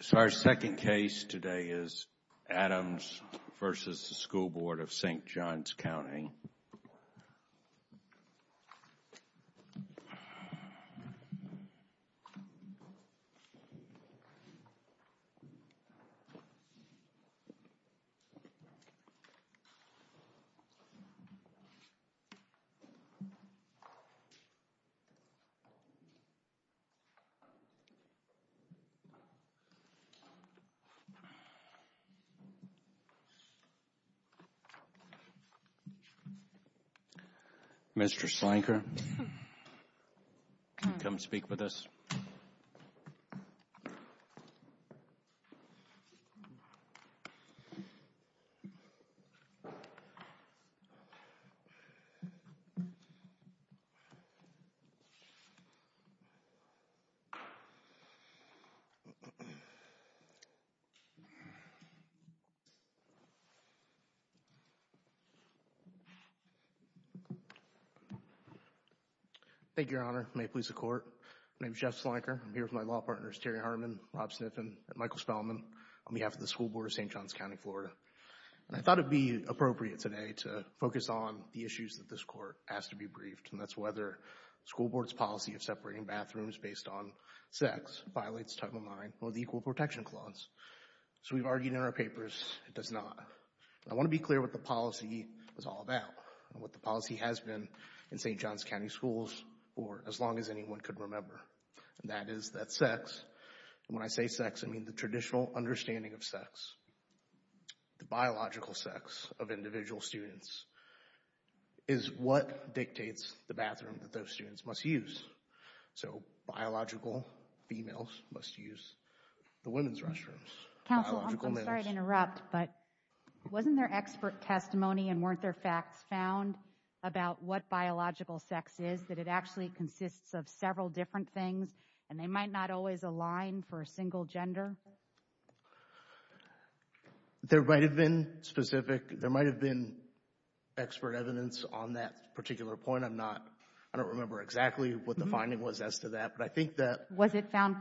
So our second case today is Adams v. School Board of St. Johns County. Mr. Slanker, come speak with us. Thank you, Your Honor. May it please the Court. My name is Jeff Slanker. I'm here with my law partners, Terry Harmon, Rob Sniffen, and Michael Spellman, on behalf of the School Board of St. Johns County, Florida. And I thought it would be appropriate today to focus on the issues that this Court has to be briefed, and that's whether the School Board's policy of separating bathrooms based on sex violates Title IX or the Equal Protection Clause. So we've argued in our papers it does not. I want to be clear what the policy is all about, and what the policy has been in St. Johns County schools for as long as anyone could remember. And that is that sex, and when I say sex, I mean the traditional understanding of sex, the biological sex of individual students, is what dictates the bathroom that those students must use. So biological females must use the women's restrooms. Counsel, I'm sorry to interrupt, but wasn't there expert testimony, and weren't there facts found about what biological sex is, that it actually consists of several different things, and they might not always align for a single gender? There might have been specific, there might have been expert evidence on that particular point. Again, I'm not, I don't remember exactly what the finding was as to that, but I think that Was it found,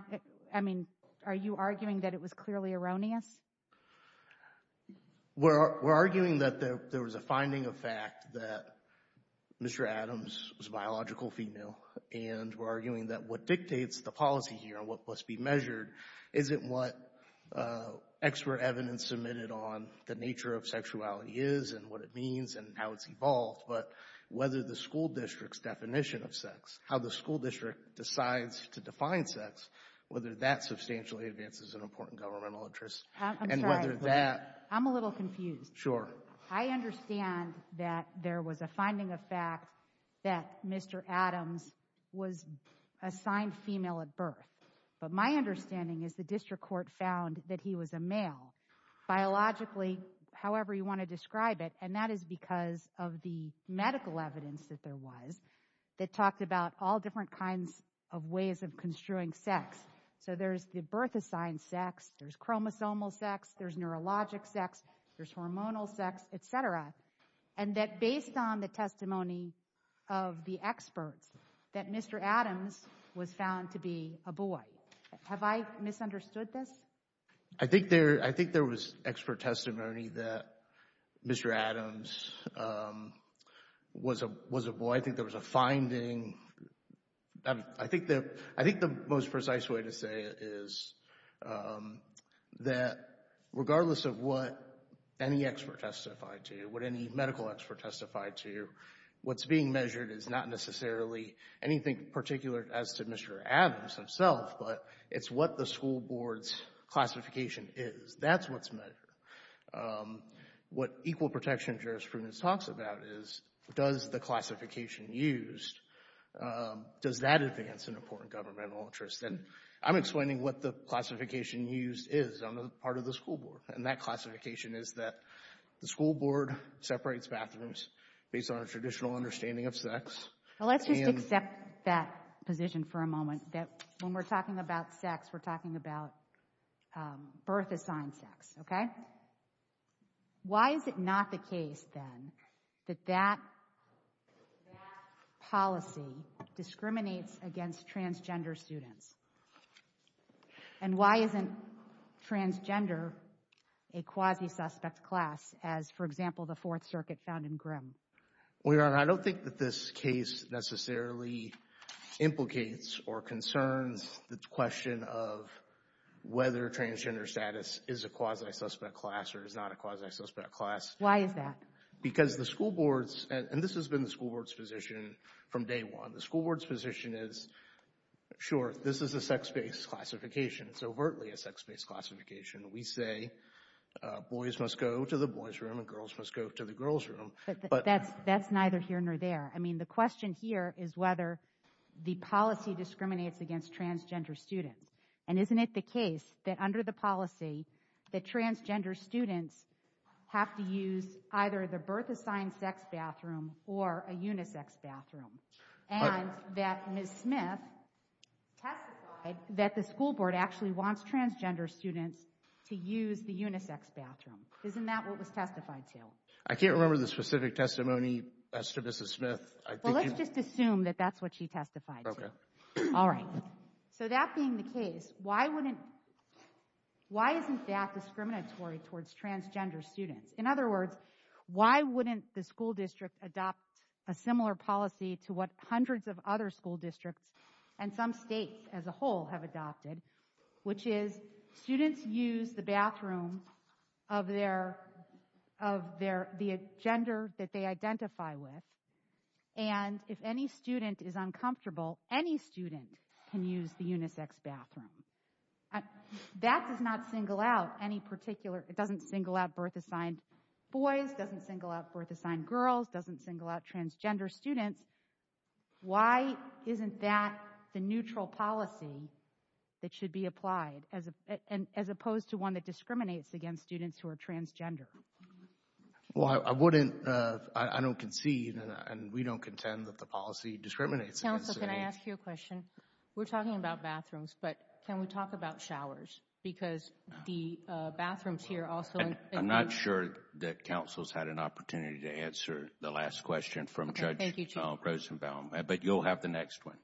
I mean, are you arguing that it was clearly erroneous? We're arguing that there was a finding of fact that Mr. Adams was a biological female, and we're arguing that what dictates the policy here, and what must be measured, isn't what expert evidence submitted on the nature of sexuality is, and what it means, and how it's involved, but whether the school district's definition of sex, how the school district decides to define sex, whether that substantially advances an important governmental interest. I'm sorry. And whether that I'm a little confused. Sure. I understand that there was a finding of fact that Mr. Adams was assigned female at birth, but my understanding is the district court found that he was a male, biologically, however you want to describe it, and that is because of the medical evidence that there was that talked about all different kinds of ways of construing sex. So there's the birth assigned sex, there's chromosomal sex, there's neurologic sex, there's hormonal sex, et cetera, and that based on the testimony of the experts, that Mr. Adams was found to be a boy. Have I misunderstood this? I think there was expert testimony that Mr. Adams was a boy. I think there was a finding. I think the most precise way to say it is that regardless of what any expert testified to, what any medical expert testified to, what's being measured is not necessarily anything particular as to Mr. Adams himself, but it's what the school board's classification is. That's what's measured. What equal protection and jurisprudence talks about is does the classification used, does that advance an important governmental interest? And I'm explaining what the classification used is on the part of the school board, and that classification is that the school board separates bathrooms based on a traditional understanding of sex. Well, let's just accept that position for a moment, that when we're talking about sex, we're talking about birth assigned sex, okay? Why is it not the case, then, that that policy discriminates against transgender students? And why isn't transgender a quasi-suspect class as, for example, the Fourth Circuit found in Grimm? Well, Your Honor, I don't think that this case necessarily implicates or concerns the question of whether transgender status is a quasi-suspect class or is not a quasi-suspect class. Why is that? Because the school boards, and this has been the school board's position from day one, the school board's position is, sure, this is a sex-based classification. It's overtly a sex-based classification. We say boys must go to the boys' room and girls must go to the girls' room. But that's neither here nor there. I mean, the question here is whether the policy discriminates against transgender students. And isn't it the case that under the policy that transgender students have to use either the birth assigned sex bathroom or a unisex bathroom? And that Ms. Smith testified that the school board actually wants transgender students to use the unisex bathroom. Isn't that what was testified to? I can't remember the specific testimony as to Ms. Smith. Well, let's just assume that that's what she testified to. Okay. All right. So that being the case, why wouldn't, why isn't that discriminatory towards transgender students? In other words, why wouldn't the school district adopt a similar policy to what hundreds of other school districts and some states as a whole have adopted, which is students use the bathroom of their, of their, the gender that they identify with. And if any student is uncomfortable, any student can use the unisex bathroom. That does not single out any particular, it doesn't single out birth assigned boys, doesn't single out birth assigned girls, doesn't single out transgender students. Why isn't that the neutral policy that should be applied as opposed to one that discriminates against students who are transgender? Well, I wouldn't, I don't concede, and we don't contend that the policy discriminates against students. Counsel, can I ask you a question? We're talking about bathrooms, but can we talk about showers? Because the bathrooms here also include... I'm not sure that counsel's had an opportunity to answer the last question from Judge... Thank you, Chief. ...Rosenbaum, but you'll have the next one.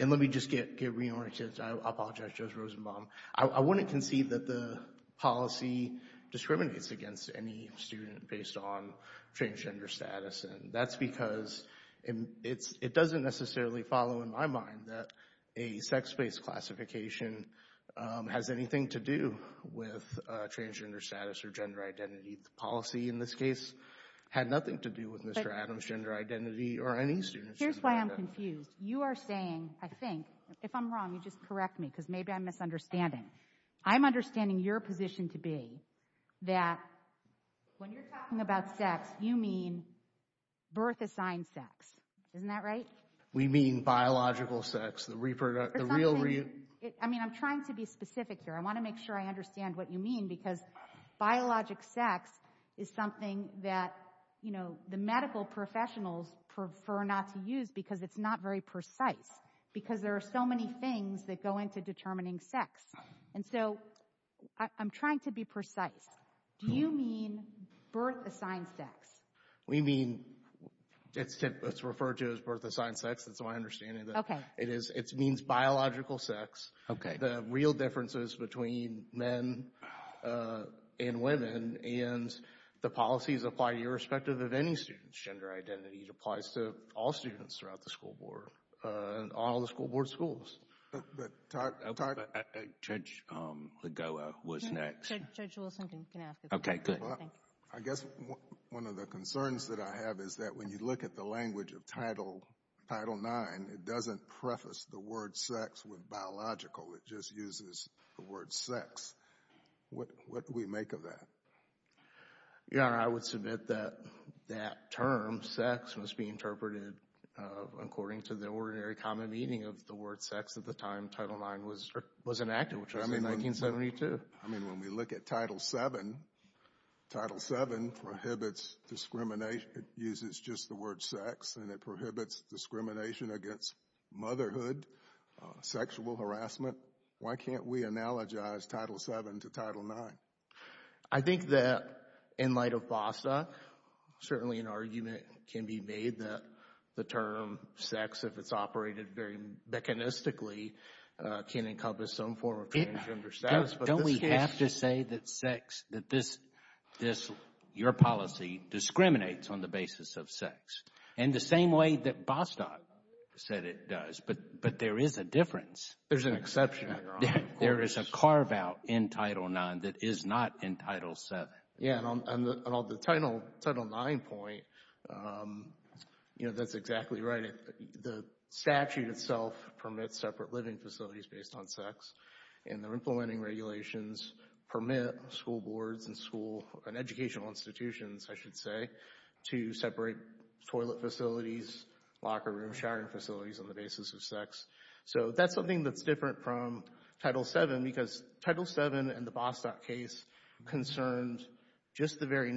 And let me just get reoriented. I apologize, Judge Rosenbaum. I wouldn't concede that the policy discriminates against any student based on transgender status. And that's because it's, it doesn't necessarily follow in my mind that a sex-based classification has anything to do with transgender status or gender identity. The policy, in this case, had nothing to do with Mr. Adams' gender identity or any student's gender identity. Here's why I'm confused. You are saying, I think, if I'm wrong, you just correct me because maybe I'm misunderstanding. I'm understanding your position to be that when you're talking about sex, you mean birth assigned sex. Isn't that right? We mean biological sex, the real... I mean, I'm trying to be specific here. I want to make sure I understand what you mean because biologic sex is something that, you know, the medical professionals prefer not to use because it's not very precise because there are so many things that go into determining sex. And so I'm trying to be precise. Do you mean birth assigned sex? We mean, it's referred to as birth assigned sex. That's my understanding. Okay. It is, it means biological sex. Okay. The real differences between men and women and the policies apply to irrespective of any student's gender identity. It applies to all students throughout the school board and all the school board schools. But... Judge Lagoa was next. Judge Wilson can ask a question. Okay, good. I guess one of the concerns that I have is that when you look at the language of Title IX, it doesn't preface the word sex with biological. It just uses the word sex. What do we make of that? Your Honor, I would submit that that term, sex, must be interpreted according to the ordinary common meaning of the word sex at the time Title IX was enacted, which was in 1972. I mean, when we look at Title VII, Title VII prohibits discrimination. It uses just the word sex and it prohibits discrimination against motherhood, sexual harassment. Why can't we analogize Title VII to Title IX? I think that in light of FOSTA, certainly an argument can be made that the term sex, if it's operated very mechanistically, can encompass some form of transgender status. Don't we have to say that sex, that this, your policy discriminates on the basis of sex? And the same way that Bostock said it does, but there is a difference. There's an exception, Your Honor. There is a carve-out in Title IX that is not in Title VII. Yeah, and on the Title IX point, you know, that's exactly right. The statute itself permits separate living facilities based on sex, and the implementing regulations permit school boards and school and educational institutions, I should say, to separate toilet facilities, locker rooms, shower facilities on the basis of sex. So that's something that's different from Title VII because Title VII and the Bostock case concerned just the very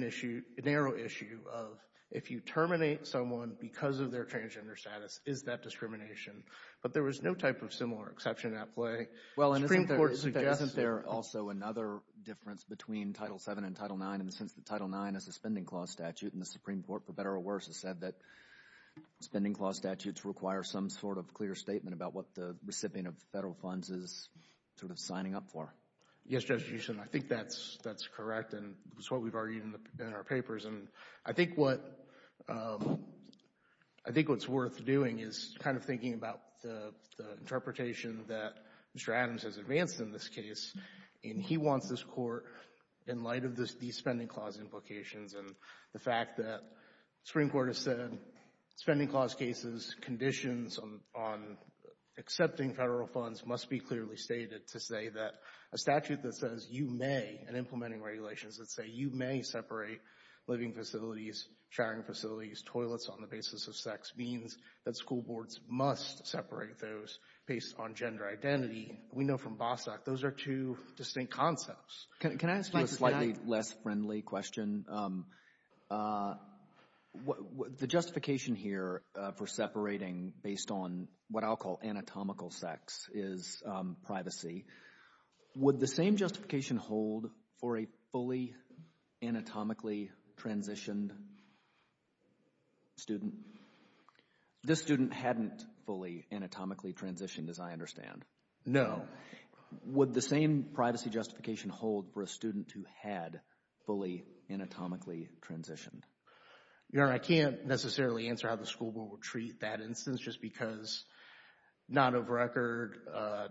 narrow issue of if you terminate someone because of their transgender status, is that discrimination? But there was no type of similar exception at play. Well, and isn't there also another difference between Title VII and Title IX in the sense that Title IX is a spending clause statute, and the Supreme Court, for better or worse, has said that spending clause statutes require some sort of clear statement about what the recipient of federal funds is sort of signing up for? Yes, Justice Gershom, I think that's correct, and it's what we've argued in our papers. And I think what's worth doing is kind of thinking about the interpretation that Mr. Adams has advanced in this case, and he wants this Court, in light of these spending clause implications and the fact that the Supreme Court has said spending clause cases, conditions on accepting federal funds must be clearly stated to say that a statute that says you may, in implementing regulations that say you may separate living facilities, showering facilities, toilets on the basis of sex, means that school boards must separate those based on gender identity. We know from Bostock, those are two distinct concepts. Can I ask you a slightly less friendly question? The justification here for separating based on what I'll call anatomical sex is privacy. Would the same justification hold for a fully anatomically transitioned student? This student hadn't fully anatomically transitioned, as I understand. No. Would the same privacy justification hold for a student who had fully anatomically transitioned? Your Honor, I can't necessarily answer how the school board would treat that instance just because not of record,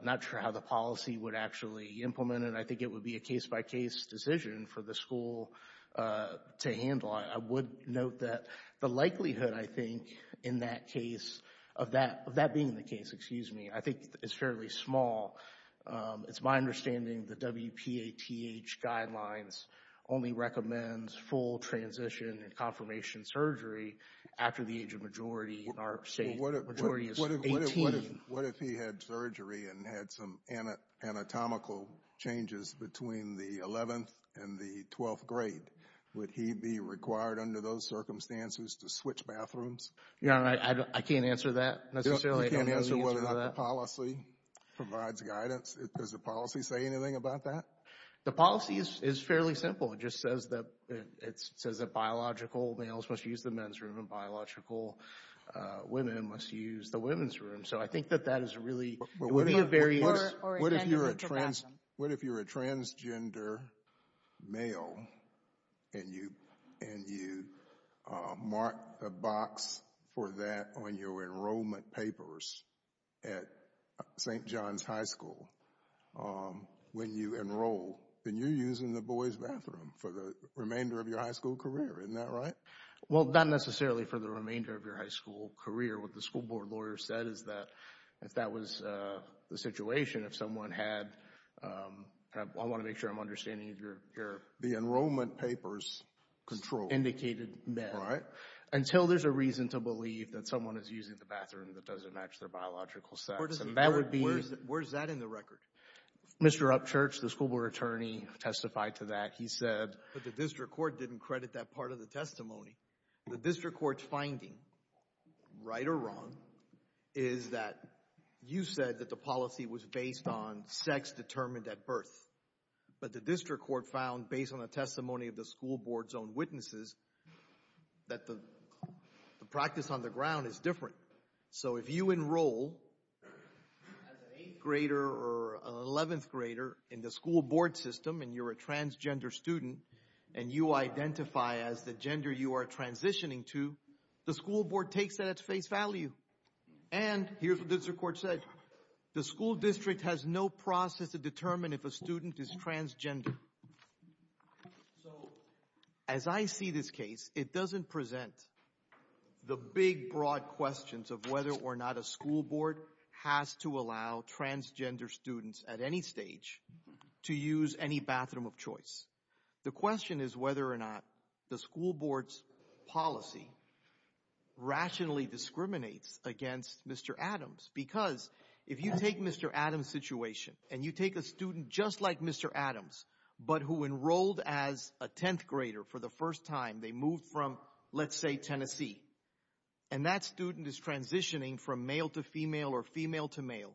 not sure how the policy would actually implement it. I think it would be a case-by-case decision for the school to handle. I would note that the likelihood, I think, in that case, of that being the case, excuse It's my understanding the WPATH guidelines only recommend full transition and confirmation surgery after the age of majority in our state. Majority is 18. What if he had surgery and had some anatomical changes between the 11th and the 12th grade? Would he be required under those circumstances to switch bathrooms? Your Honor, I can't answer that necessarily. I can't answer whether or not the policy provides guidance. Does the policy say anything about that? The policy is fairly simple. It just says that biological males must use the men's room and biological women must use the women's room. So I think that that is really, it would be a very What if you're a transgender male and you mark the box for that on your enrollment papers at St. John's High School when you enroll? Then you're using the boys' bathroom for the remainder of your high school career. Isn't that right? Well, not necessarily for the remainder of your high school career. What the school board lawyer said is that if that was the situation, if someone had I want to make sure I'm understanding your The enrollment papers control Indicated men. Right. Until there's a reason to believe that someone is using the bathroom that doesn't match their biological sex. Where's that in the record? Mr. Upchurch, the school board attorney, testified to that. He said But the district court didn't credit that part of the testimony. The district court's finding, right or wrong, is that you said that the policy was based on sex determined at birth. But the district court found, based on the testimony of the school board's own witnesses, that the practice on the ground is different. So if you enroll as an 8th grader or an 11th grader in the school board system and you're a transgender student and you identify as the gender you are transitioning to, the school board takes that at face value. And here's what the district court said. The school district has no process to determine if a student is transgender. So as I see this case, it doesn't present the big, broad questions of whether or not a school board has to allow transgender students at any stage to use any bathroom of choice. The question is whether or not the school board's policy rationally discriminates against Mr. Adams. Because if you take Mr. Adams' situation and you take a student just like Mr. Adams, but who enrolled as a 10th grader for the first time, they moved from, let's say, Tennessee, and that student is transitioning from male to female or female to male,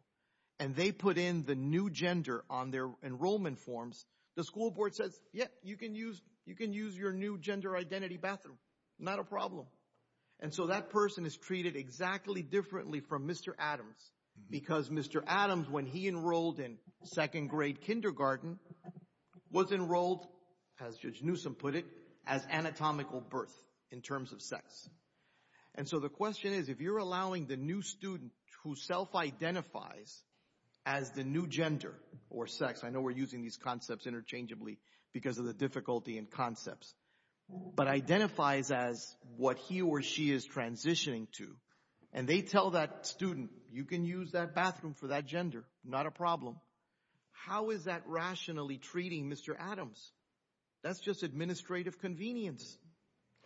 and they put in the new gender on their enrollment forms, the school board says, yeah, you can use your new gender identity bathroom, not a problem. And so that person is treated exactly differently from Mr. Adams because Mr. Adams, when he enrolled in second grade kindergarten, was enrolled, as Judge Newsom put it, as anatomical birth in terms of sex. And so the question is, if you're allowing the new student who self-identifies as the new gender or sex, I know we're using these concepts interchangeably because of the difficulty in concepts, but identifies as what he or she is transitioning to, and they tell that student, you can use that bathroom for that gender, not a problem. How is that rationally treating Mr. Adams? That's just administrative convenience,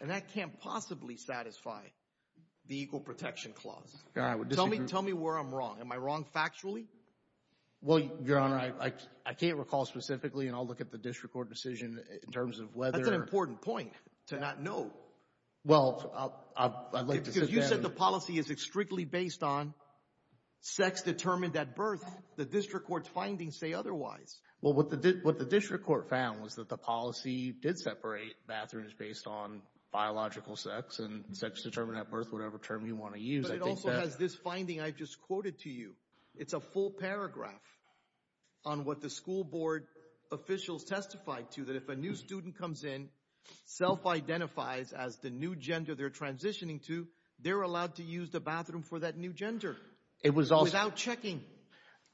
and that can't possibly satisfy the Equal Protection Clause. Tell me where I'm wrong. Am I wrong factually? Well, Your Honor, I can't recall specifically, and I'll look at the district court decision in terms of whether— That's an important point to not know. Well, I'd like to sit down— Because you said the policy is strictly based on sex determined at birth. The district court's findings say otherwise. Well, what the district court found was that the policy did separate bathrooms based on biological sex and sex determined at birth, whatever term you want to use, I think that— But it also has this finding I just quoted to you. It's a full paragraph on what the school board officials testified to, that if a new student comes in, self-identifies as the new gender they're transitioning to, they're allowed to use the bathroom for that new gender without checking.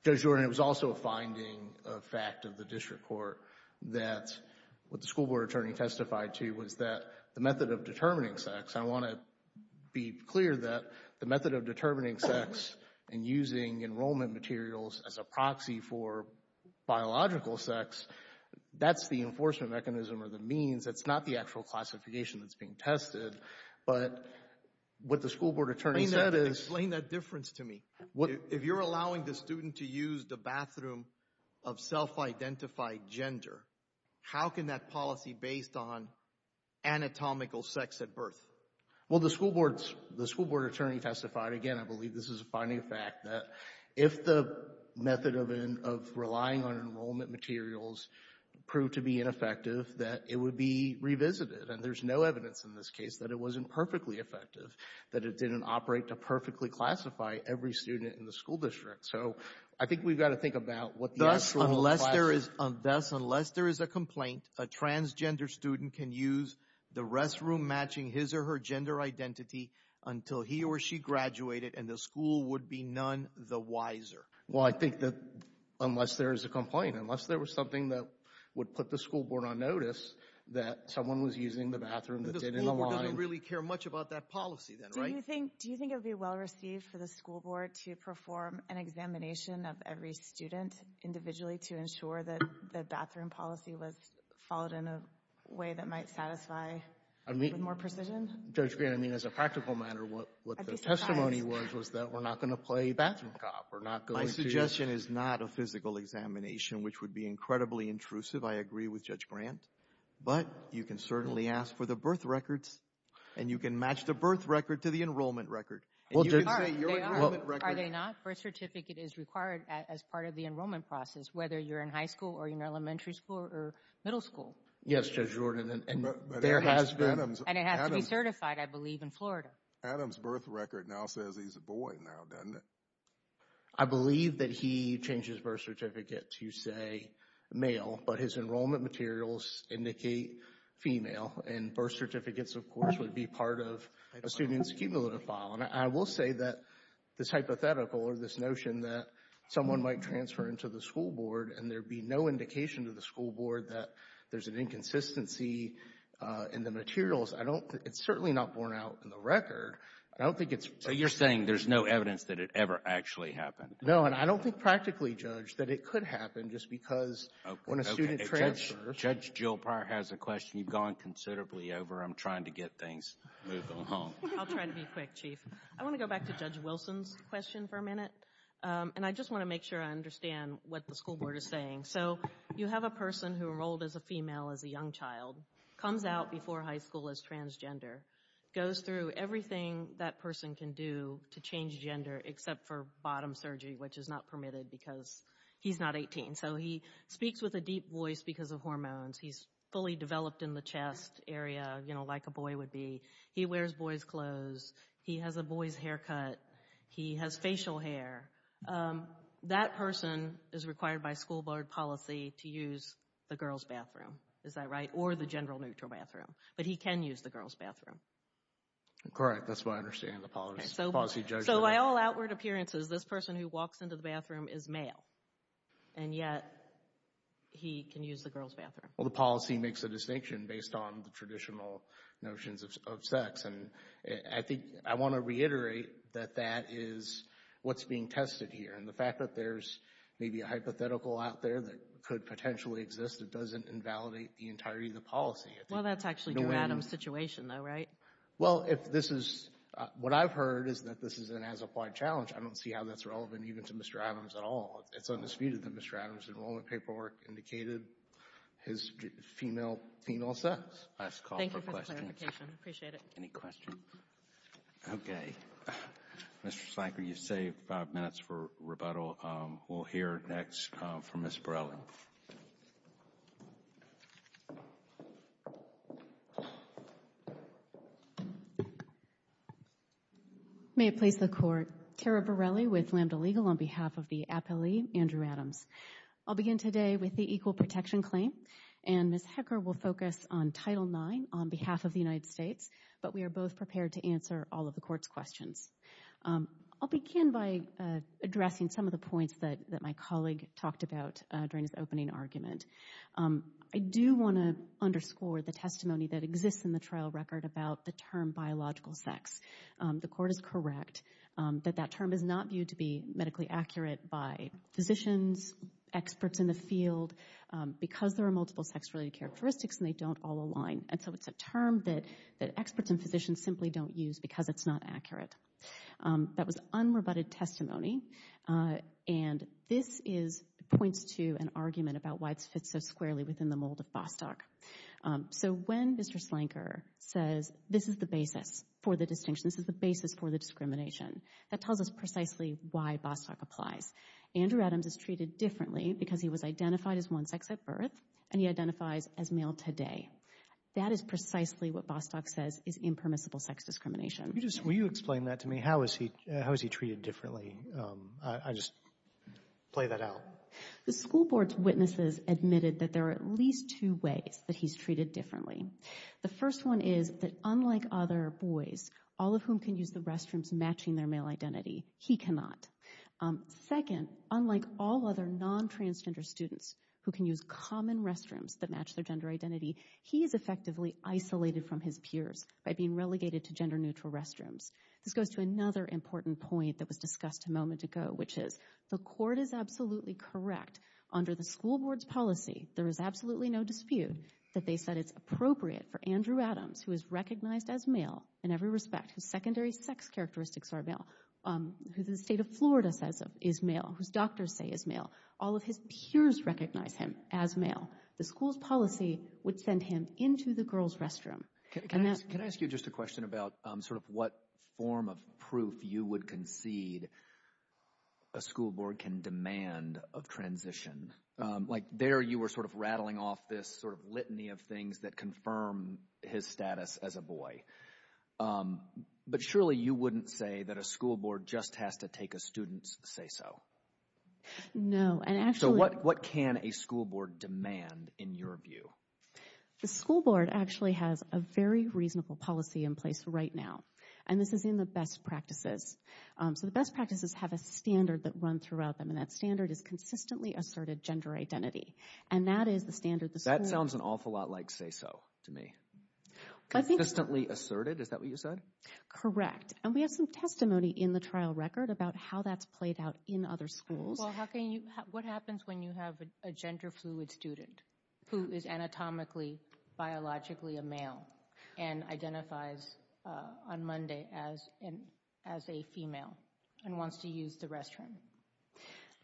Judge Jordan, it was also a finding, a fact of the district court, that what the school board attorney testified to was that the method of determining sex— I want to be clear that the method of determining sex and using enrollment materials as a proxy for biological sex, that's the enforcement mechanism or the means. It's not the actual classification that's being tested. But what the school board attorney said is— Explain that difference to me. If you're allowing the student to use the bathroom of self-identified gender, how can that policy be based on anatomical sex at birth? Well, the school board attorney testified, again, I believe this is a finding, a fact, that if the method of relying on enrollment materials proved to be ineffective, that it would be revisited. And there's no evidence in this case that it wasn't perfectly effective, that it didn't operate to perfectly classify every student in the school district. So I think we've got to think about what the actual— Thus, unless there is a complaint, a transgender student can use the restroom matching his or her gender identity until he or she graduated, and the school would be none the wiser. Well, I think that unless there is a complaint, unless there was something that would put the school board on notice that someone was using the bathroom that didn't align— But the school board doesn't really care much about that policy then, right? Do you think it would be well-received for the school board to perform an examination of every student individually to ensure that the bathroom policy was followed in a way that might satisfy with more precision? Judge Grant, I mean, as a practical matter, what the testimony was, was that we're not going to play bathroom cop. We're not going to— My suggestion is not a physical examination, which would be incredibly intrusive. I agree with Judge Grant. But you can certainly ask for the birth records, and you can match the birth record to the enrollment record. And you can say your enrollment record— Are they not? Birth certificate is required as part of the enrollment process, whether you're in high school or you're in elementary school or middle school. Yes, Judge Jordan, and there has been— And it has to be certified, I believe, in Florida. Adam's birth record now says he's a boy now, doesn't it? I believe that he changed his birth certificate to, say, male, but his enrollment materials indicate female, and birth certificates, of course, would be part of a student's cumulative file. And I will say that this hypothetical or this notion that someone might transfer into the school board and there be no indication to the school board that there's an inconsistency in the materials, I don't—it's certainly not borne out in the record. I don't think it's— So you're saying there's no evidence that it ever actually happened? No, and I don't think practically, Judge, that it could happen just because when a student transfers— Okay. If Judge Jill Prior has a question, you've gone considerably over. I'm trying to get things moving along. I'll try to be quick, Chief. I want to go back to Judge Wilson's question for a minute, and I just want to make sure I understand what the school board is saying. So you have a person who enrolled as a female as a young child, comes out before high school as transgender, goes through everything that person can do to change gender except for bottom surgery, which is not permitted because he's not 18. So he speaks with a deep voice because of hormones. He's fully developed in the chest area, you know, like a boy would be. He wears boys' clothes. He has a boy's haircut. He has facial hair. That person is required by school board policy to use the girls' bathroom, is that right, or the general neutral bathroom. But he can use the girls' bathroom. Correct. That's what I understand in the policy judgment. So by all outward appearances, this person who walks into the bathroom is male, and yet he can use the girls' bathroom. Well, the policy makes a distinction based on the traditional notions of sex, and I think I want to reiterate that that is what's being tested here. And the fact that there's maybe a hypothetical out there that could potentially exist that doesn't invalidate the entirety of the policy. Well, that's actually Mr. Adams' situation though, right? Well, what I've heard is that this is an as-applied challenge. I don't see how that's relevant even to Mr. Adams at all. It's undisputed that Mr. Adams' enrollment paperwork indicated his female sex. Thank you for the clarification. Appreciate it. Any questions? Okay. Mr. Slanker, you've saved five minutes for rebuttal. We'll hear next from Ms. Borelli. May it please the Court. Tara Borelli with Lambda Legal on behalf of the appellee, Andrew Adams. I'll begin today with the equal protection claim, and Ms. Hecker will focus on Title IX on behalf of the United States, but we are both prepared to answer all of the Court's questions. I'll begin by addressing some of the points that my colleague talked about during his opening argument. I do want to underscore the testimony that exists in the trial record about the term biological sex. The Court is correct that that term is not viewed to be medically accurate by physicians, experts in the field, because there are multiple sex-related characteristics and they don't all align. And so it's a term that experts and physicians simply don't use because it's not accurate. That was unrebutted testimony, and this points to an argument about why it fits so squarely within the mold of Bostock. So when Mr. Slanker says this is the basis for the distinction, this is the basis for the discrimination, that tells us precisely why Bostock applies. Andrew Adams is treated differently because he was identified as one sex at birth, and he identifies as male today. That is precisely what Bostock says is impermissible sex discrimination. Will you explain that to me? How is he treated differently? I'll just play that out. The school board's witnesses admitted that there are at least two ways that he's treated differently. The first one is that unlike other boys, all of whom can use the restrooms matching their male identity, he cannot. Second, unlike all other non-transgender students who can use common restrooms that match their gender identity, he is effectively isolated from his peers by being relegated to gender-neutral restrooms. This goes to another important point that was discussed a moment ago, which is the court is absolutely correct. Under the school board's policy, there is absolutely no dispute that they said it's appropriate for Andrew Adams, who is recognized as male in every respect, whose secondary sex characteristics are male, who the state of Florida says is male, whose doctors say is male, all of his peers recognize him as male. The school's policy would send him into the girls' restroom. Can I ask you just a question about sort of what form of proof you would concede a school board can demand of transition? Like there you were sort of rattling off this sort of litany of things that confirm his status as a boy. But surely you wouldn't say that a school board just has to take a student's say-so. No, and actually— So what can a school board demand in your view? The school board actually has a very reasonable policy in place right now, and this is in the best practices. So the best practices have a standard that run throughout them, and that standard is consistently asserted gender identity. And that is the standard the school— That sounds an awful lot like say-so to me. Consistently asserted, is that what you said? Correct, and we have some testimony in the trial record about how that's played out in other schools. Well, how can you—what happens when you have a gender-fluid student who is anatomically, biologically a male and identifies on Monday as a female and wants to use the restroom?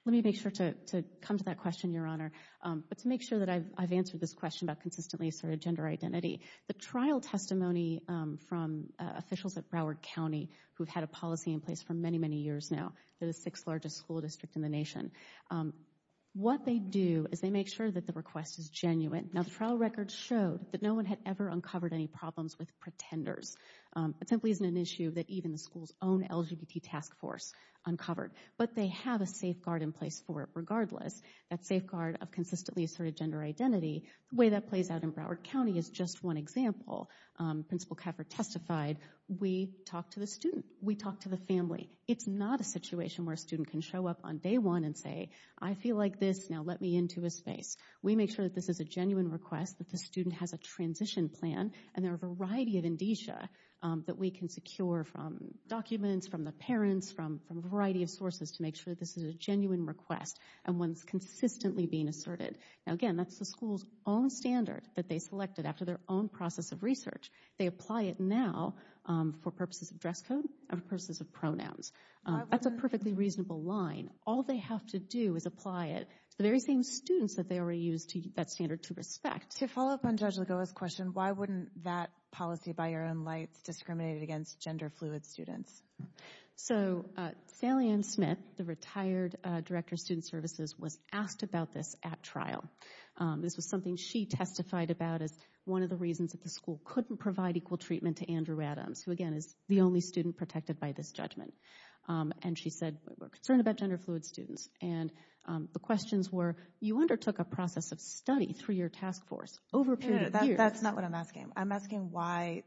Let me make sure to come to that question, Your Honor. But to make sure that I've answered this question about consistently asserted gender identity, the trial testimony from officials at Broward County who've had a policy in place for many, many years now, they're the sixth largest school district in the nation. What they do is they make sure that the request is genuine. Now, the trial record showed that no one had ever uncovered any problems with pretenders. It simply isn't an issue that even the school's own LGBT task force uncovered. But they have a safeguard in place for it regardless, that safeguard of consistently asserted gender identity. The way that plays out in Broward County is just one example. Principal Kaffer testified, we talk to the student, we talk to the family. It's not a situation where a student can show up on day one and say, I feel like this, now let me into a space. We make sure that this is a genuine request, that the student has a transition plan, and there are a variety of indicia that we can secure from documents, from the parents, from a variety of sources to make sure that this is a genuine request and one that's consistently being asserted. Now, again, that's the school's own standard that they selected after their own process of research. They apply it now for purposes of dress code and purposes of pronouns. That's a perfectly reasonable line. All they have to do is apply it to the very same students that they already used that standard to respect. To follow up on Judge Lagoa's question, why wouldn't that policy by your own lights discriminate against gender-fluid students? So Sally Ann Smith, the retired director of student services, was asked about this at trial. This was something she testified about as one of the reasons that the school couldn't provide equal treatment to Andrew Adams, who, again, is the only student protected by this judgment. And she said, we're concerned about gender-fluid students. And the questions were, you undertook a process of study through your task force over a period of years. That's not what I'm asking. I'm asking why,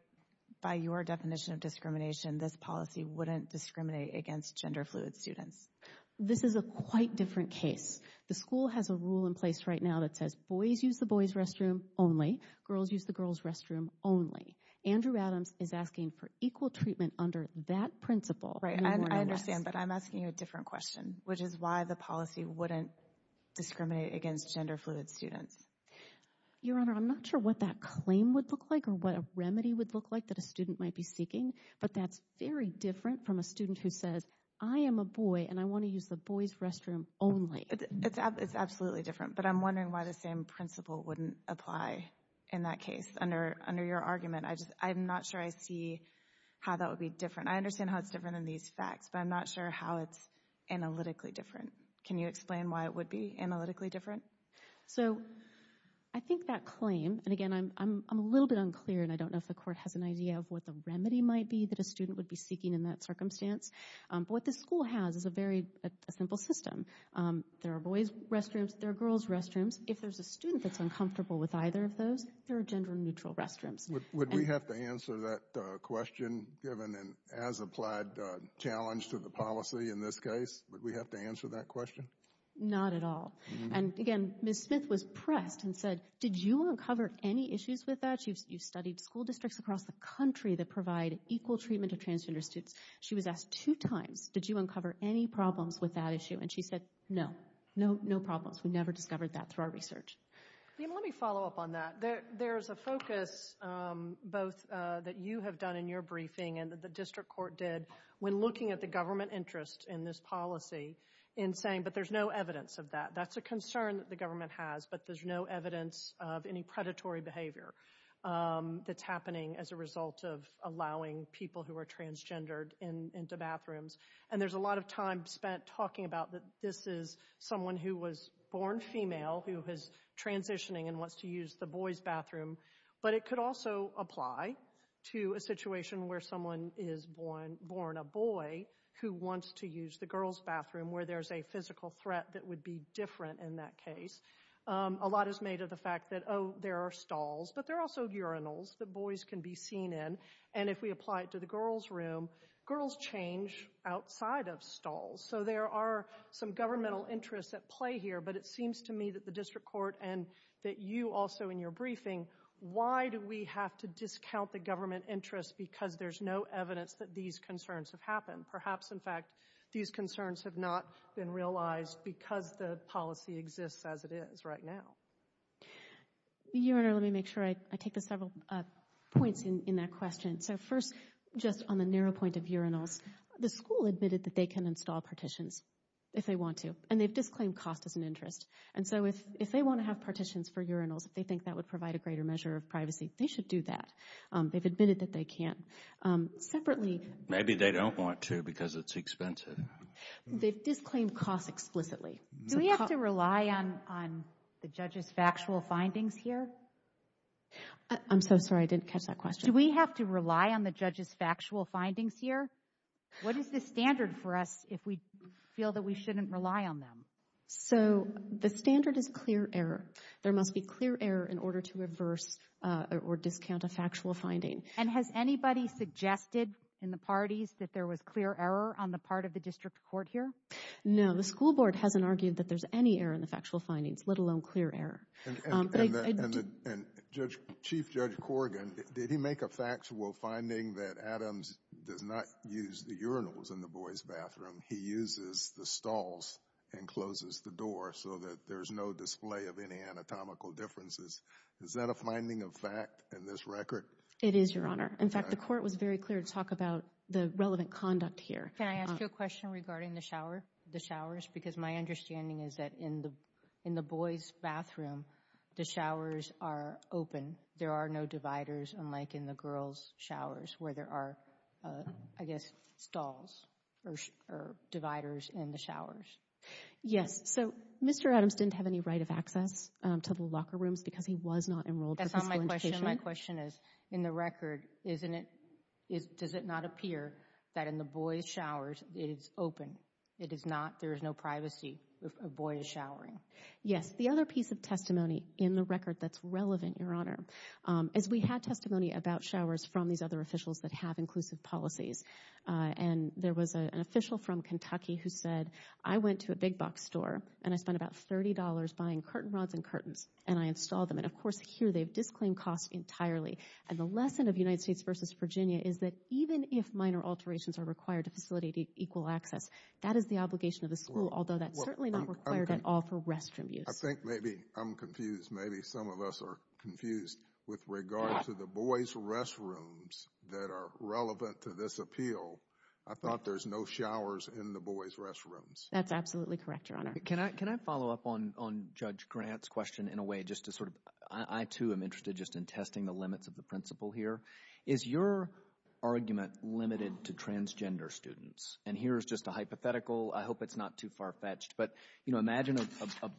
by your definition of discrimination, this policy wouldn't discriminate against gender-fluid students. This is a quite different case. The school has a rule in place right now that says boys use the boys' restroom only. Girls use the girls' restroom only. Andrew Adams is asking for equal treatment under that principle. I understand, but I'm asking you a different question, which is why the policy wouldn't discriminate against gender-fluid students. Your Honor, I'm not sure what that claim would look like or what a remedy would look like that a student might be seeking, but that's very different from a student who says, I am a boy and I want to use the boys' restroom only. It's absolutely different, but I'm wondering why the same principle wouldn't apply in that case under your argument. I'm not sure I see how that would be different. I understand how it's different in these facts, but I'm not sure how it's analytically different. Can you explain why it would be analytically different? So I think that claim, and, again, I'm a little bit unclear, and I don't know if the Court has an idea of what the remedy might be that a student would be seeking in that circumstance. But what the school has is a very simple system. There are boys' restrooms. There are girls' restrooms. If there's a student that's uncomfortable with either of those, there are gender-neutral restrooms. Would we have to answer that question given an as-applied challenge to the policy in this case? Would we have to answer that question? Not at all. And, again, Ms. Smith was pressed and said, did you uncover any issues with that? You've studied school districts across the country that provide equal treatment to transgender students. She was asked two times, did you uncover any problems with that issue? And she said, no, no problems. We never discovered that through our research. Let me follow up on that. There's a focus both that you have done in your briefing and that the district court did when looking at the government interest in this policy in saying, but there's no evidence of that. That's a concern that the government has, but there's no evidence of any predatory behavior that's happening as a result of allowing people who are transgendered into bathrooms. And there's a lot of time spent talking about that this is someone who was born female who is transitioning and wants to use the boys' bathroom. But it could also apply to a situation where someone is born a boy who wants to use the girls' bathroom, where there's a physical threat that would be different in that case. A lot is made of the fact that, oh, there are stalls. But there are also urinals that boys can be seen in. And if we apply it to the girls' room, girls change outside of stalls. So there are some governmental interests at play here. But it seems to me that the district court and that you also in your briefing, why do we have to discount the government interest because there's no evidence that these concerns have happened? Perhaps, in fact, these concerns have not been realized because the policy exists as it is right now. Your Honor, let me make sure I take the several points in that question. So first, just on the narrow point of urinals, the school admitted that they can install partitions if they want to, and they've disclaimed cost as an interest. And so if they want to have partitions for urinals, if they think that would provide a greater measure of privacy, they should do that. They've admitted that they can. Maybe they don't want to because it's expensive. They've disclaimed cost explicitly. Do we have to rely on the judge's factual findings here? I'm so sorry, I didn't catch that question. Do we have to rely on the judge's factual findings here? What is the standard for us if we feel that we shouldn't rely on them? So the standard is clear error. There must be clear error in order to reverse or discount a factual finding. And has anybody suggested in the parties that there was clear error on the part of the district court here? No, the school board hasn't argued that there's any error in the factual findings, let alone clear error. And Chief Judge Corrigan, did he make a factual finding that Adams does not use the urinals in the boys' bathroom? He uses the stalls and closes the door so that there's no display of any anatomical differences. Is that a finding of fact in this record? It is, Your Honor. In fact, the court was very clear to talk about the relevant conduct here. Can I ask you a question regarding the shower, the showers? Because my understanding is that in the boys' bathroom, the showers are open. There are no dividers, unlike in the girls' showers where there are, I guess, stalls or dividers in the showers. Yes. So Mr. Adams didn't have any right of access to the locker rooms because he was not enrolled for physical education. That's not my question. My question is, in the record, does it not appear that in the boys' showers, it is open? There is no privacy if a boy is showering. Yes. The other piece of testimony in the record that's relevant, Your Honor, is we had testimony about showers from these other officials that have inclusive policies. And there was an official from Kentucky who said, I went to a big box store, and I spent about $30 buying curtain rods and curtains, and I installed them. And, of course, here they've disclaimed costs entirely. And the lesson of United States v. Virginia is that even if minor alterations are required to facilitate equal access, that is the obligation of the school, although that's certainly not required at all for restroom use. I think maybe I'm confused. Maybe some of us are confused with regard to the boys' restrooms that are relevant to this appeal. I thought there's no showers in the boys' restrooms. That's absolutely correct, Your Honor. Can I follow up on Judge Grant's question in a way just to sort of – I, too, am interested just in testing the limits of the principle here. Is your argument limited to transgender students? And here is just a hypothetical. I hope it's not too far-fetched. But imagine a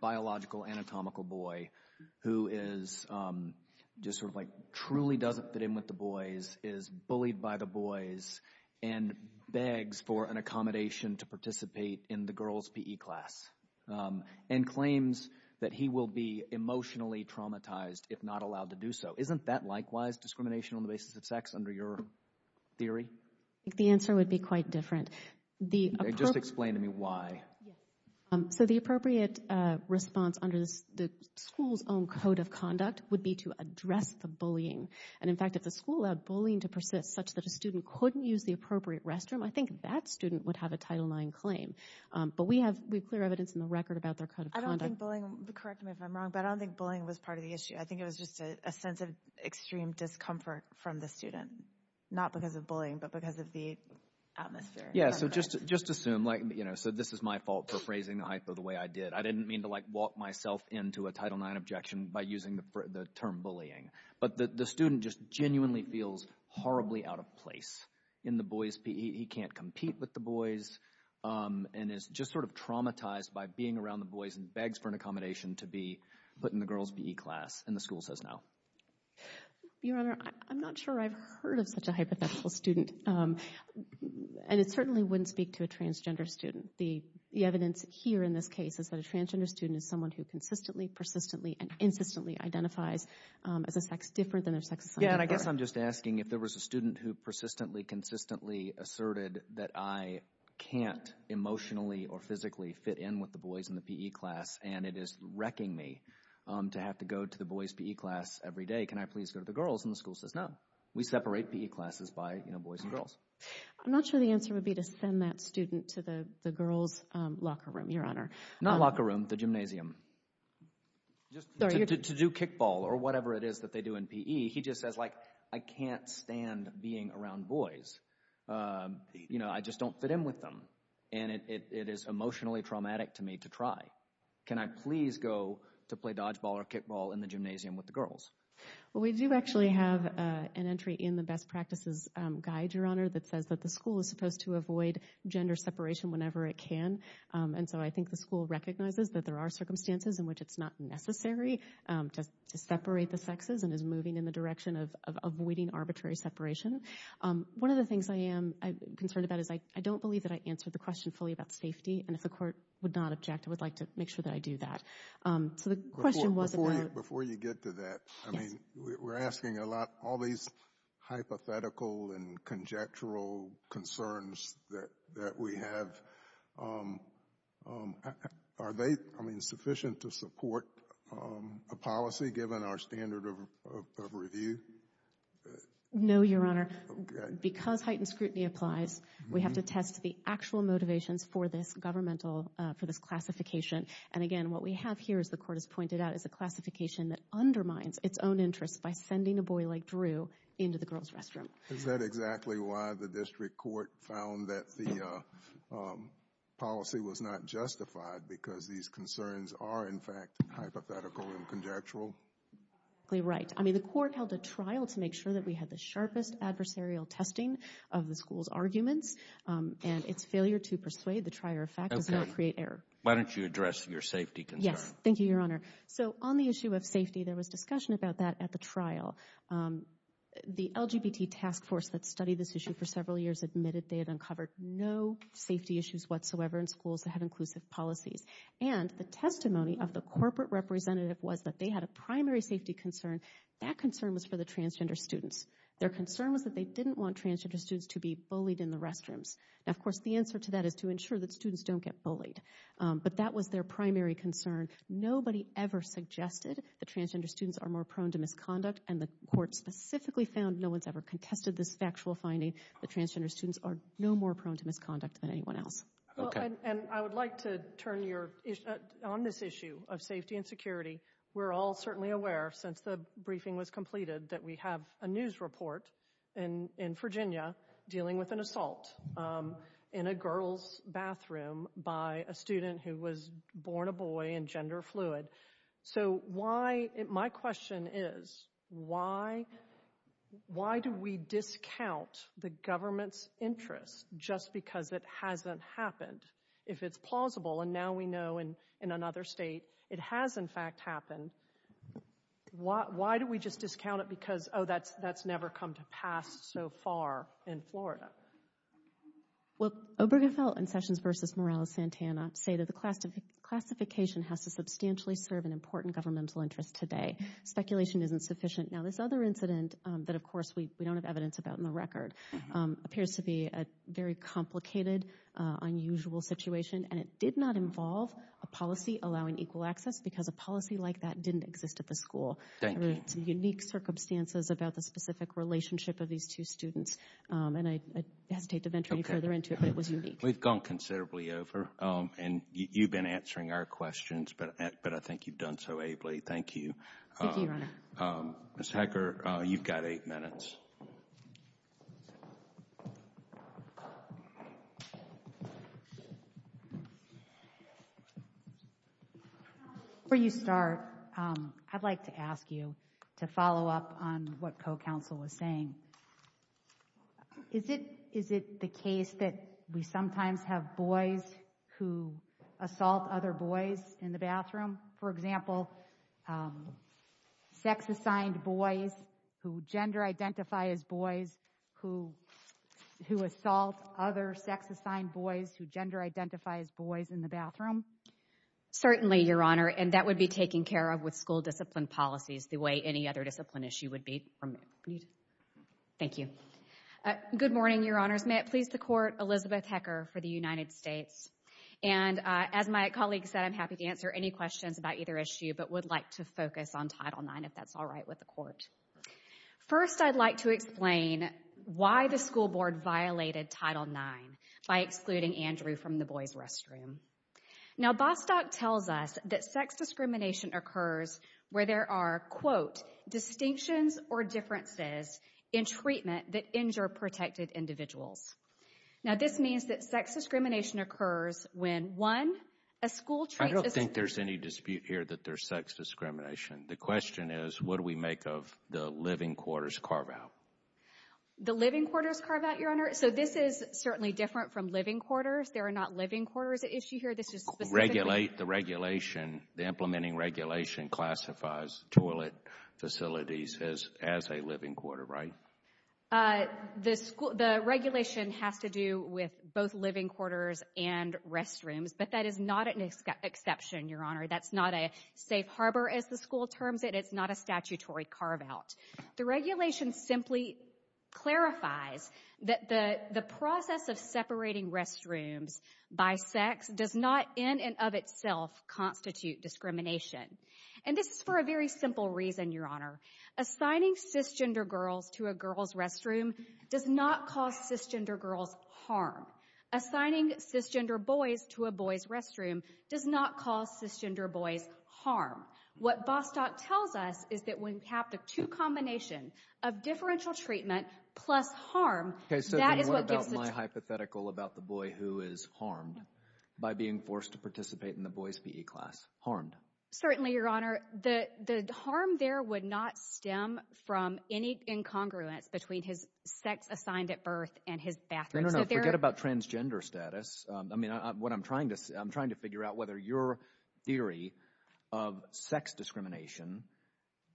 biological, anatomical boy who is just sort of like truly doesn't fit in with the boys, is bullied by the boys, and begs for an accommodation to participate in the girls' PE class and claims that he will be emotionally traumatized if not allowed to do so. Isn't that likewise discrimination on the basis of sex under your theory? The answer would be quite different. Just explain to me why. So the appropriate response under the school's own code of conduct would be to address the bullying. And, in fact, if the school allowed bullying to persist such that a student couldn't use the appropriate restroom, I think that student would have a Title IX claim. But we have clear evidence in the record about their code of conduct. I don't think bullying – correct me if I'm wrong – but I don't think bullying was part of the issue. I think it was just a sense of extreme discomfort from the student, not because of bullying but because of the atmosphere. Yeah, so just assume – so this is my fault for phrasing the hypo the way I did. I didn't mean to, like, walk myself into a Title IX objection by using the term bullying. But the student just genuinely feels horribly out of place in the boys' PE. Your Honor, I'm not sure I've heard of such a hypothetical student. And it certainly wouldn't speak to a transgender student. The evidence here in this case is that a transgender student is someone who consistently, persistently, and insistently identifies as a sex different than their sex assigned to her. Yeah, and I guess I'm just asking if there was a student who persistently, consistently asserted that I can't emotionally or physically fit in with the boys in the PE class. And it is wrecking me to have to go to the boys' PE class every day. Can I please go to the girls' and the school says no. We separate PE classes by boys and girls. I'm not sure the answer would be to send that student to the girls' locker room, Your Honor. Not locker room, the gymnasium. Just to do kickball or whatever it is that they do in PE. He just says, like, I can't stand being around boys. You know, I just don't fit in with them. And it is emotionally traumatic to me to try. Can I please go to play dodgeball or kickball in the gymnasium with the girls? Well, we do actually have an entry in the best practices guide, Your Honor, that says that the school is supposed to avoid gender separation whenever it can. And so I think the school recognizes that there are circumstances in which it's not necessary to separate the sexes and is moving in the direction of avoiding arbitrary separation. One of the things I am concerned about is I don't believe that I answered the question fully about safety. And if the court would not object, I would like to make sure that I do that. So the question was about – Before you get to that, I mean, we're asking a lot, all these hypothetical and conjectural concerns that we have. Are they, I mean, sufficient to support a policy given our standard of review? No, Your Honor. Because heightened scrutiny applies, we have to test the actual motivations for this governmental – for this classification. And again, what we have here, as the court has pointed out, is a classification that undermines its own interests by sending a boy like Drew into the girls' restroom. Is that exactly why the district court found that the policy was not justified because these concerns are, in fact, hypothetical and conjectural? Exactly right. I mean, the court held a trial to make sure that we had the sharpest adversarial testing of the school's arguments. And its failure to persuade the trier of fact does not create error. Okay. Why don't you address your safety concern? Yes. Thank you, Your Honor. So on the issue of safety, there was discussion about that at the trial. The LGBT task force that studied this issue for several years admitted they had uncovered no safety issues whatsoever in schools that had inclusive policies. And the testimony of the corporate representative was that they had a primary safety concern. That concern was for the transgender students. Their concern was that they didn't want transgender students to be bullied in the restrooms. Now, of course, the answer to that is to ensure that students don't get bullied. But that was their primary concern. Nobody ever suggested that transgender students are more prone to misconduct. And the court specifically found no one's ever contested this factual finding that transgender students are no more prone to misconduct than anyone else. Okay. And I would like to turn on this issue of safety and security. We're all certainly aware, since the briefing was completed, that we have a news report in Virginia dealing with an assault in a girls' bathroom by a student who was born a boy and gender fluid. So, my question is, why do we discount the government's interest just because it hasn't happened? If it's plausible, and now we know in another state it has, in fact, happened, why do we just discount it because, oh, that's never come to pass so far in Florida? Well, Obergefell and Sessions v. Morales-Santana say that the classification has to substantially serve an important governmental interest today. Speculation isn't sufficient. Now, this other incident that, of course, we don't have evidence about in the record appears to be a very complicated, unusual situation. And it did not involve a policy allowing equal access because a policy like that didn't exist at the school. Thank you. There were some unique circumstances about the specific relationship of these two students. And I hesitate to venture any further into it, but it was unique. We've gone considerably over. And you've been answering our questions, but I think you've done so ably. Thank you. Thank you, Your Honor. Ms. Hecker, you've got eight minutes. Before you start, I'd like to ask you to follow up on what co-counsel was saying. Is it the case that we sometimes have boys who assault other boys in the bathroom? For example, sex-assigned boys who gender-identify as boys who assault other sex-assigned boys who gender-identify as boys in the bathroom? Certainly, Your Honor. And that would be taken care of with school discipline policies the way any other discipline issue would be. Thank you. Good morning, Your Honors. May it please the Court, Elizabeth Hecker for the United States. And as my colleague said, I'm happy to answer any questions about either issue, but would like to focus on Title IX, if that's all right with the Court. First, I'd like to explain why the school board violated Title IX by excluding Andrew from the boys' restroom. Now, Bostock tells us that sex discrimination occurs where there are, quote, in treatment that injure protected individuals. Now, this means that sex discrimination occurs when, one, a school treats a student. I don't think there's any dispute here that there's sex discrimination. The question is, what do we make of the living quarters carve-out? The living quarters carve-out, Your Honor? So this is certainly different from living quarters. There are not living quarters at issue here. The regulation, the implementing regulation classifies toilet facilities as a living quarter, right? The regulation has to do with both living quarters and restrooms, but that is not an exception, Your Honor. That's not a safe harbor, as the school terms it. It's not a statutory carve-out. The regulation simply clarifies that the process of separating restrooms by sex does not in and of itself constitute discrimination. And this is for a very simple reason, Your Honor. Assigning cisgender girls to a girls' restroom does not cause cisgender girls harm. Assigning cisgender boys to a boys' restroom does not cause cisgender boys harm. What Bostock tells us is that when you have the two combinations of differential treatment plus harm, that is what gives the— Okay, so then what about my hypothetical about the boy who is harmed by being forced to participate in the boys' PE class? Harmed. Certainly, Your Honor. The harm there would not stem from any incongruence between his sex assigned at birth and his bathroom. No, no, no. Forget about transgender status. I mean, what I'm trying to—I'm trying to figure out whether your theory of sex discrimination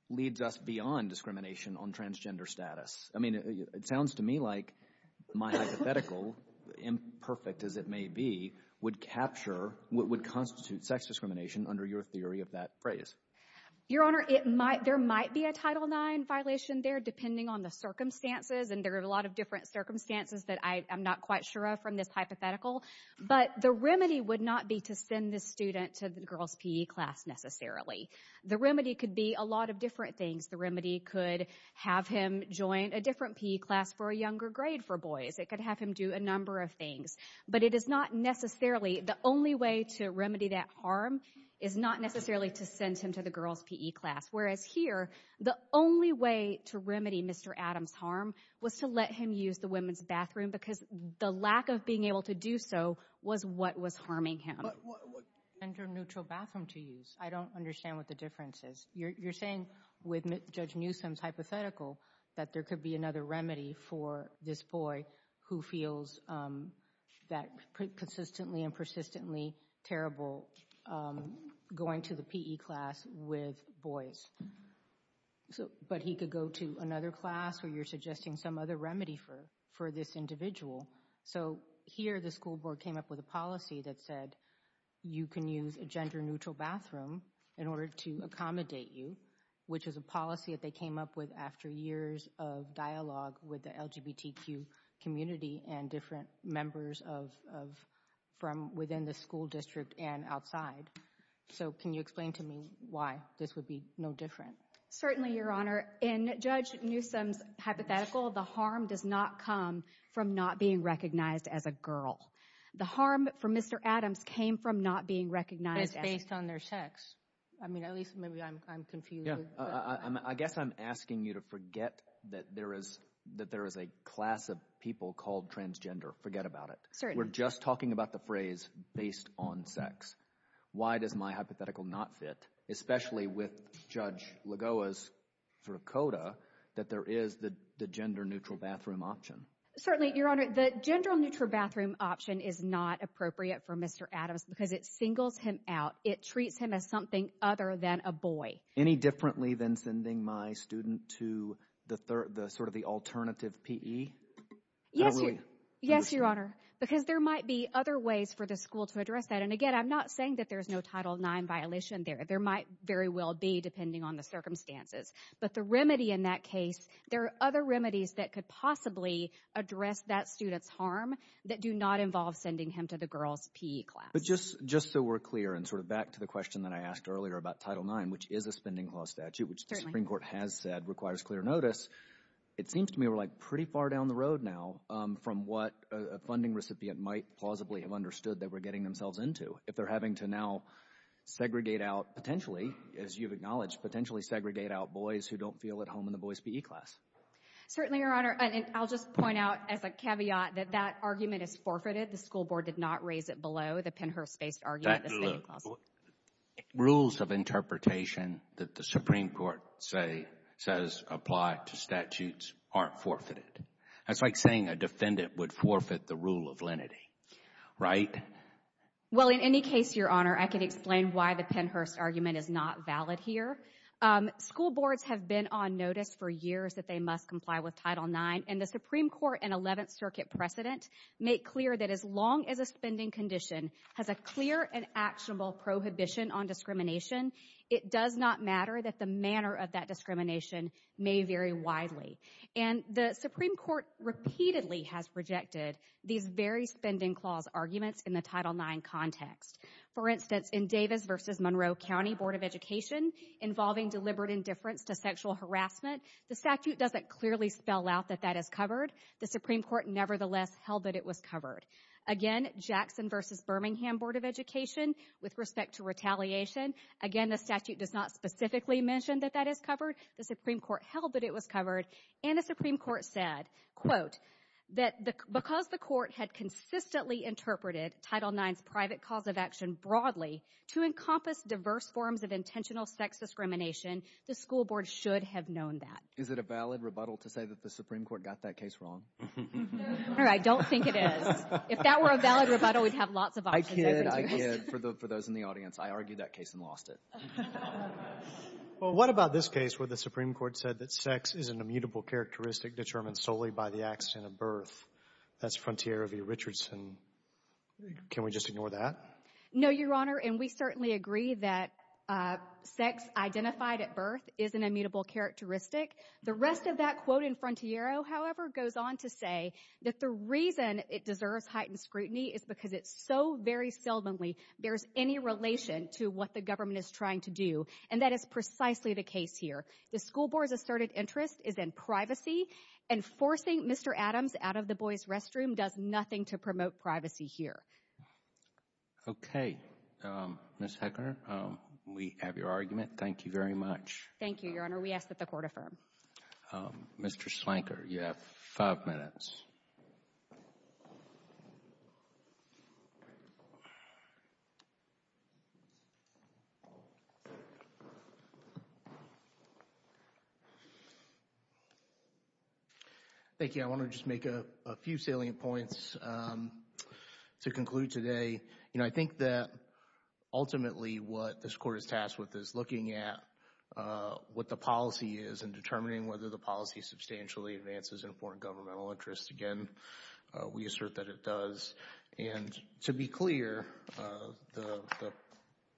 leads us beyond discrimination on transgender status. I mean, it sounds to me like my hypothetical, imperfect as it may be, would capture what would constitute sex discrimination under your theory of that phrase. Your Honor, it might—there might be a Title IX violation there depending on the circumstances, and there are a lot of different circumstances that I'm not quite sure of from this hypothetical. But the remedy would not be to send this student to the girls' PE class necessarily. The remedy could be a lot of different things. The remedy could have him join a different PE class for a younger grade for boys. It could have him do a number of things. But it is not necessarily—the only way to remedy that harm is not necessarily to send him to the girls' PE class. Whereas here, the only way to remedy Mr. Adams' harm was to let him use the women's bathroom because the lack of being able to do so was what was harming him. But what— Gender-neutral bathroom to use. I don't understand what the difference is. You're saying with Judge Newsom's hypothetical that there could be another remedy for this boy who feels that consistently and persistently terrible going to the PE class with boys. But he could go to another class where you're suggesting some other remedy for this individual. So here the school board came up with a policy that said you can use a gender-neutral bathroom in order to accommodate you, which is a policy that they came up with after years of dialogue with the LGBTQ community and different members of—from within the school district and outside. So can you explain to me why this would be no different? Certainly, Your Honor. In Judge Newsom's hypothetical, the harm does not come from not being recognized as a girl. The harm for Mr. Adams came from not being recognized as— But it's based on their sex. I mean, at least maybe I'm confused. I guess I'm asking you to forget that there is a class of people called transgender. Forget about it. Certainly. We're just talking about the phrase based on sex. Why does my hypothetical not fit, especially with Judge Lagoa's sort of coda, that there is the gender-neutral bathroom option? Certainly, Your Honor. The gender-neutral bathroom option is not appropriate for Mr. Adams because it singles him out. It treats him as something other than a boy. Any differently than sending my student to the sort of the alternative PE? Yes, Your Honor, because there might be other ways for the school to address that. And, again, I'm not saying that there's no Title IX violation there. There might very well be depending on the circumstances. But the remedy in that case, there are other remedies that could possibly address that student's harm that do not involve sending him to the girls' PE class. But just so we're clear and sort of back to the question that I asked earlier about Title IX, which is a spending clause statute, which the Supreme Court has said requires clear notice, it seems to me we're, like, pretty far down the road now from what a funding recipient might plausibly have understood they were getting themselves into. If they're having to now segregate out potentially, as you've acknowledged, potentially segregate out boys who don't feel at home in the boys' PE class. Certainly, Your Honor. And I'll just point out as a caveat that that argument is forfeited. The school board did not raise it below the Pennhurst-based argument, the spending clause. Rules of interpretation that the Supreme Court says apply to statutes aren't forfeited. That's like saying a defendant would forfeit the rule of lenity, right? Well, in any case, Your Honor, I can explain why the Pennhurst argument is not valid here. School boards have been on notice for years that they must comply with Title IX. And the Supreme Court and Eleventh Circuit precedent make clear that as long as a spending condition has a clear and actionable prohibition on discrimination, it does not matter that the manner of that discrimination may vary widely. And the Supreme Court repeatedly has rejected these very spending clause arguments in the Title IX context. For instance, in Davis v. Monroe County Board of Education involving deliberate indifference to sexual harassment, the statute doesn't clearly spell out that that is covered. The Supreme Court, nevertheless, held that it was covered. Again, Jackson v. Birmingham Board of Education with respect to retaliation, again, the statute does not specifically mention that that is covered. The Supreme Court held that it was covered. And the Supreme Court said, quote, that because the court had consistently interpreted Title IX's private cause of action broadly to encompass diverse forms of intentional sex discrimination, the school board should have known that. Is it a valid rebuttal to say that the Supreme Court got that case wrong? I don't think it is. If that were a valid rebuttal, we'd have lots of options. I kid. I kid. For those in the audience, I argued that case and lost it. Well, what about this case where the Supreme Court said that sex is an immutable characteristic determined solely by the accident of birth? That's Frontier v. Richardson. Can we just ignore that? No, Your Honor, and we certainly agree that sex identified at birth is an immutable characteristic. The rest of that quote in Frontiero, however, goes on to say that the reason it deserves heightened scrutiny is because it so very seldomly bears any relation to what the government is trying to do, and that is precisely the case here. The school board's asserted interest is in privacy, and forcing Mr. Adams out of the boys' restroom does nothing to promote privacy here. Okay. Ms. Heckner, we have your argument. Thank you very much. Thank you, Your Honor. We ask that the Court affirm. Mr. Slanker, you have five minutes. Thank you. Your Honor, I want to just make a few salient points to conclude today. You know, I think that ultimately what this Court is tasked with is looking at what the policy is and determining whether the policy substantially advances important governmental interests. Again, we assert that it does, and to be clear, the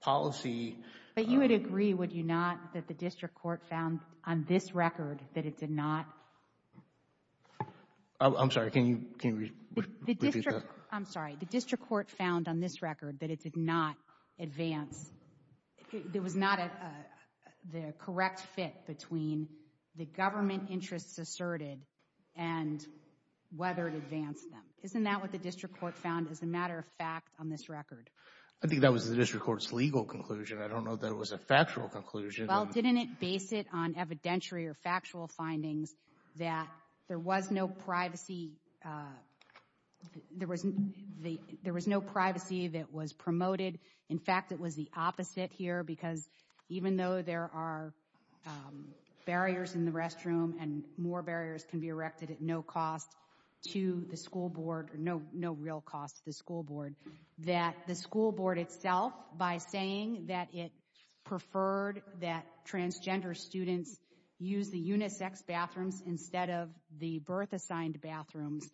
policy— I'm sorry. Can you repeat that? I'm sorry. The district court found on this record that it did not advance. It was not the correct fit between the government interests asserted and whether it advanced them. Isn't that what the district court found as a matter of fact on this record? I think that was the district court's legal conclusion. I don't know that it was a factual conclusion. Well, didn't it base it on evidentiary or factual findings that there was no privacy—there was no privacy that was promoted? In fact, it was the opposite here because even though there are barriers in the restroom and more barriers can be erected at no cost to the school board or no real cost to the school board, that the school board itself, by saying that it preferred that transgender students use the unisex bathrooms instead of the birth-assigned bathrooms,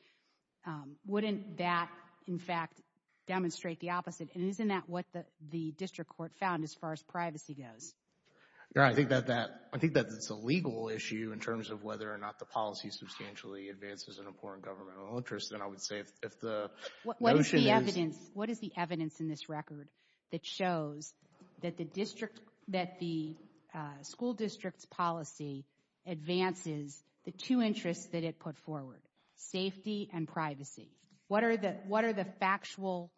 wouldn't that, in fact, demonstrate the opposite? And isn't that what the district court found as far as privacy goes? I think that it's a legal issue in terms of whether or not the policy substantially advances an important governmental interest. What is the evidence in this record that shows that the school district's policy advances the two interests that it put forward, safety and privacy? What are the factual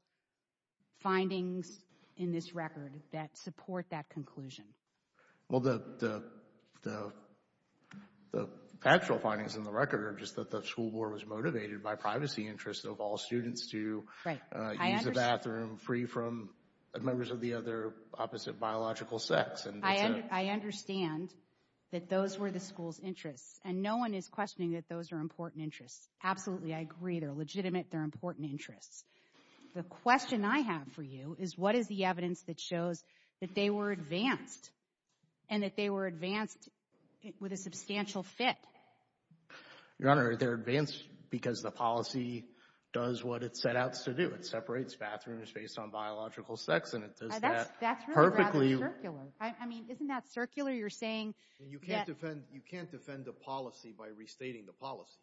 findings in this record that support that conclusion? Well, the factual findings in the record are just that the school board was motivated by privacy interests of all students to use the bathroom free from members of the other opposite biological sex. I understand that those were the school's interests, and no one is questioning that those are important interests. Absolutely, I agree. They're legitimate. They're important interests. The question I have for you is what is the evidence that shows that they were advanced and that they were advanced with a substantial fit? Your Honor, they're advanced because the policy does what it set out to do. It separates bathrooms based on biological sex, and it does that perfectly. That's really rather circular. I mean, isn't that circular? You're saying that— You can't defend the policy by restating the policy.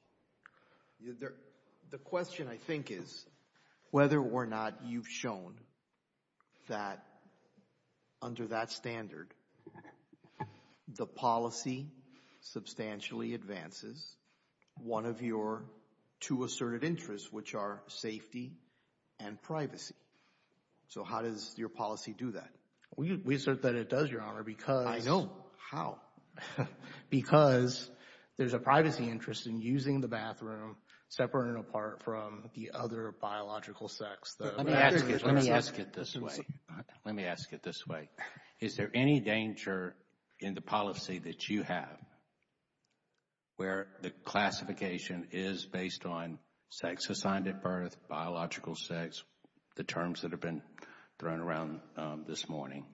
The question, I think, is whether or not you've shown that under that standard the policy substantially advances one of your two asserted interests, which are safety and privacy. So how does your policy do that? We assert that it does, Your Honor, because— I know. How? Because there's a privacy interest in using the bathroom separate and apart from the other biological sex. Let me ask it this way. Let me ask it this way. Is there any danger in the policy that you have where the classification is based on sex assigned at birth, biological sex, the terms that have been thrown around this morning?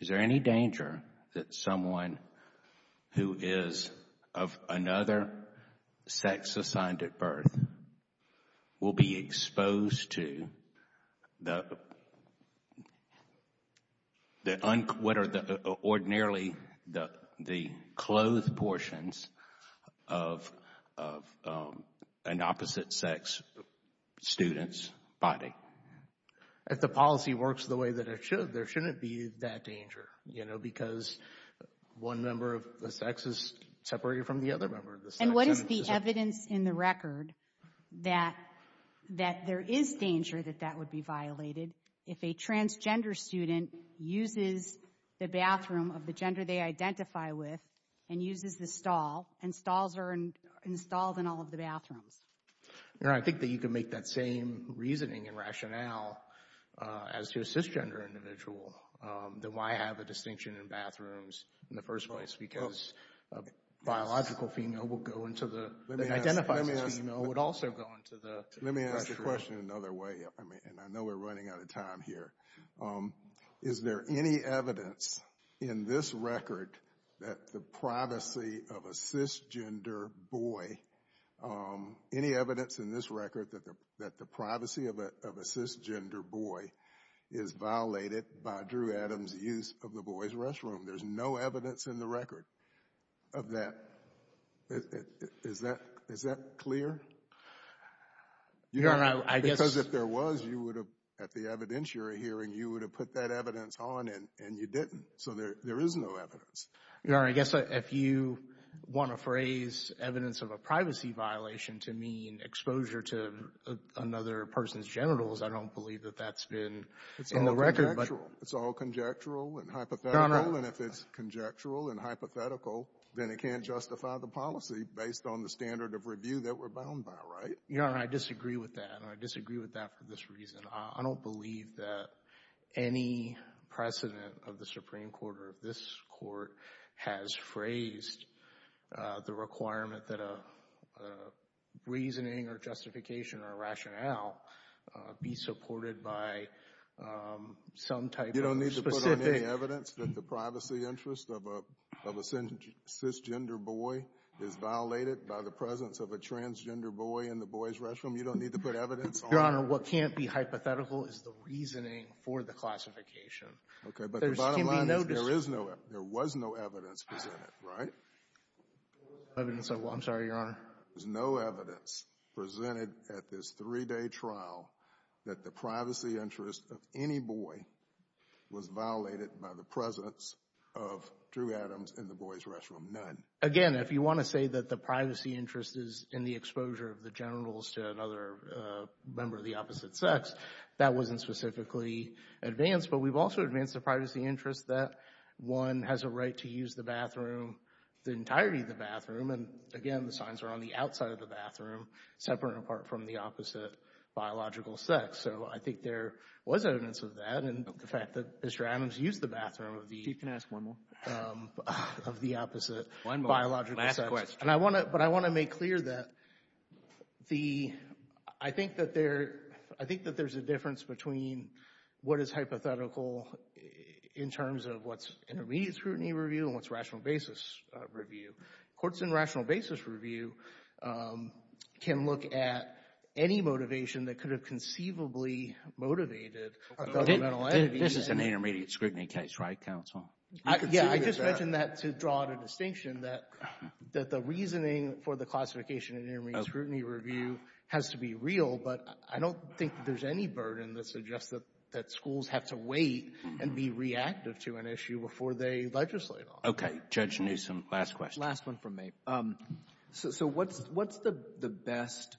Is there any danger that someone who is of another sex assigned at birth will be exposed to the—what are ordinarily the clothed portions of an opposite-sex student's body? If the policy works the way that it should, there shouldn't be that danger, you know, because one member of the sex is separated from the other member of the sex. And what is the evidence in the record that there is danger that that would be violated if a transgender student uses the bathroom of the gender they identify with and uses the stall, and stalls are installed in all of the bathrooms? Your Honor, I think that you could make that same reasoning and rationale as to a cisgender individual. Then why have a distinction in bathrooms in the first place? Because a biological female will go into the—that identifies as a female would also go into the— Let me ask the question another way, and I know we're running out of time here. Is there any evidence in this record that the privacy of a cisgender boy—any evidence in this record that the privacy of a cisgender boy is violated by Drew Adams' use of the boys' restroom? There's no evidence in the record of that. Is that clear? Your Honor, I guess— And you would have put that evidence on, and you didn't. So there is no evidence. Your Honor, I guess if you want to phrase evidence of a privacy violation to mean exposure to another person's genitals, I don't believe that that's been in the record. It's all conjectural and hypothetical, and if it's conjectural and hypothetical, then it can't justify the policy based on the standard of review that we're bound by, right? Your Honor, I disagree with that, and I disagree with that for this reason. I don't believe that any precedent of the Supreme Court or of this Court has phrased the requirement that a reasoning or justification or a rationale be supported by some type of specific— You don't need to put on any evidence that the privacy interest of a cisgender boy is violated by the presence of a transgender boy in the boys' restroom? You don't need to put evidence on— Your Honor, what can't be hypothetical is the reasoning for the classification. Okay, but the bottom line is there is no—there was no evidence presented, right? Evidence of what? I'm sorry, Your Honor. There's no evidence presented at this three-day trial that the privacy interest of any boy was violated by the presence of Drew Adams in the boys' restroom. None. Again, if you want to say that the privacy interest is in the exposure of the generals to another member of the opposite sex, that wasn't specifically advanced. But we've also advanced the privacy interest that one has a right to use the bathroom, the entirety of the bathroom. And again, the signs are on the outside of the bathroom, separate and apart from the opposite biological sex. So I think there was evidence of that, and the fact that Mr. Adams used the bathroom of the— Chief, can I ask one more? Of the opposite biological sex. Last question. But I want to make clear that the—I think that there's a difference between what is hypothetical in terms of what's intermediate scrutiny review and what's rational basis review. Courts in rational basis review can look at any motivation that could have conceivably motivated a governmental entity— This is an intermediate scrutiny case, right, counsel? Yeah, I just mentioned that to draw the distinction that the reasoning for the classification in intermediate scrutiny review has to be real, but I don't think there's any burden that suggests that schools have to wait and be reactive to an issue before they legislate on it. Okay. Judge Newsom, last question. Last one from me. So what's the best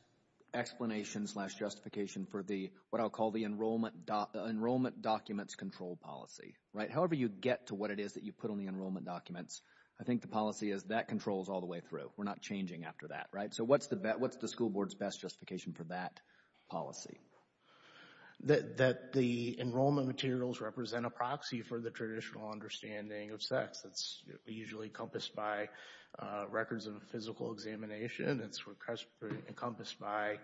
explanation slash justification for what I'll call the enrollment documents control policy, right? So however you get to what it is that you put on the enrollment documents, I think the policy is that controls all the way through. We're not changing after that, right? So what's the school board's best justification for that policy? That the enrollment materials represent a proxy for the traditional understanding of sex. It's usually encompassed by records of physical examination. It's encompassed by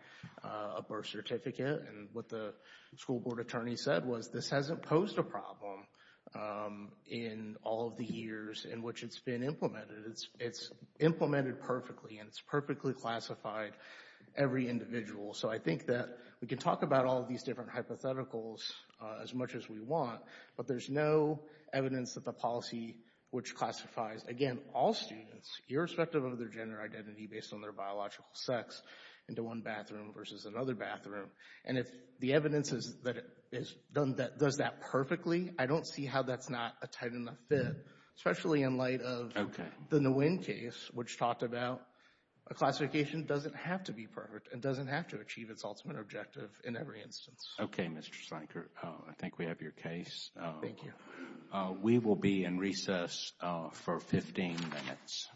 a birth certificate. And what the school board attorney said was this hasn't posed a problem in all of the years in which it's been implemented. It's implemented perfectly, and it's perfectly classified every individual. So I think that we can talk about all of these different hypotheticals as much as we want, but there's no evidence that the policy which classifies, again, all students, irrespective of their gender identity based on their biological sex, into one bathroom versus another bathroom. And if the evidence is that it does that perfectly, I don't see how that's not a tight enough fit, especially in light of the Nguyen case, which talked about a classification doesn't have to be perfect and doesn't have to achieve its ultimate objective in every instance. Okay, Mr. Slanker, I think we have your case. Thank you. We will be in recess for 15 minutes.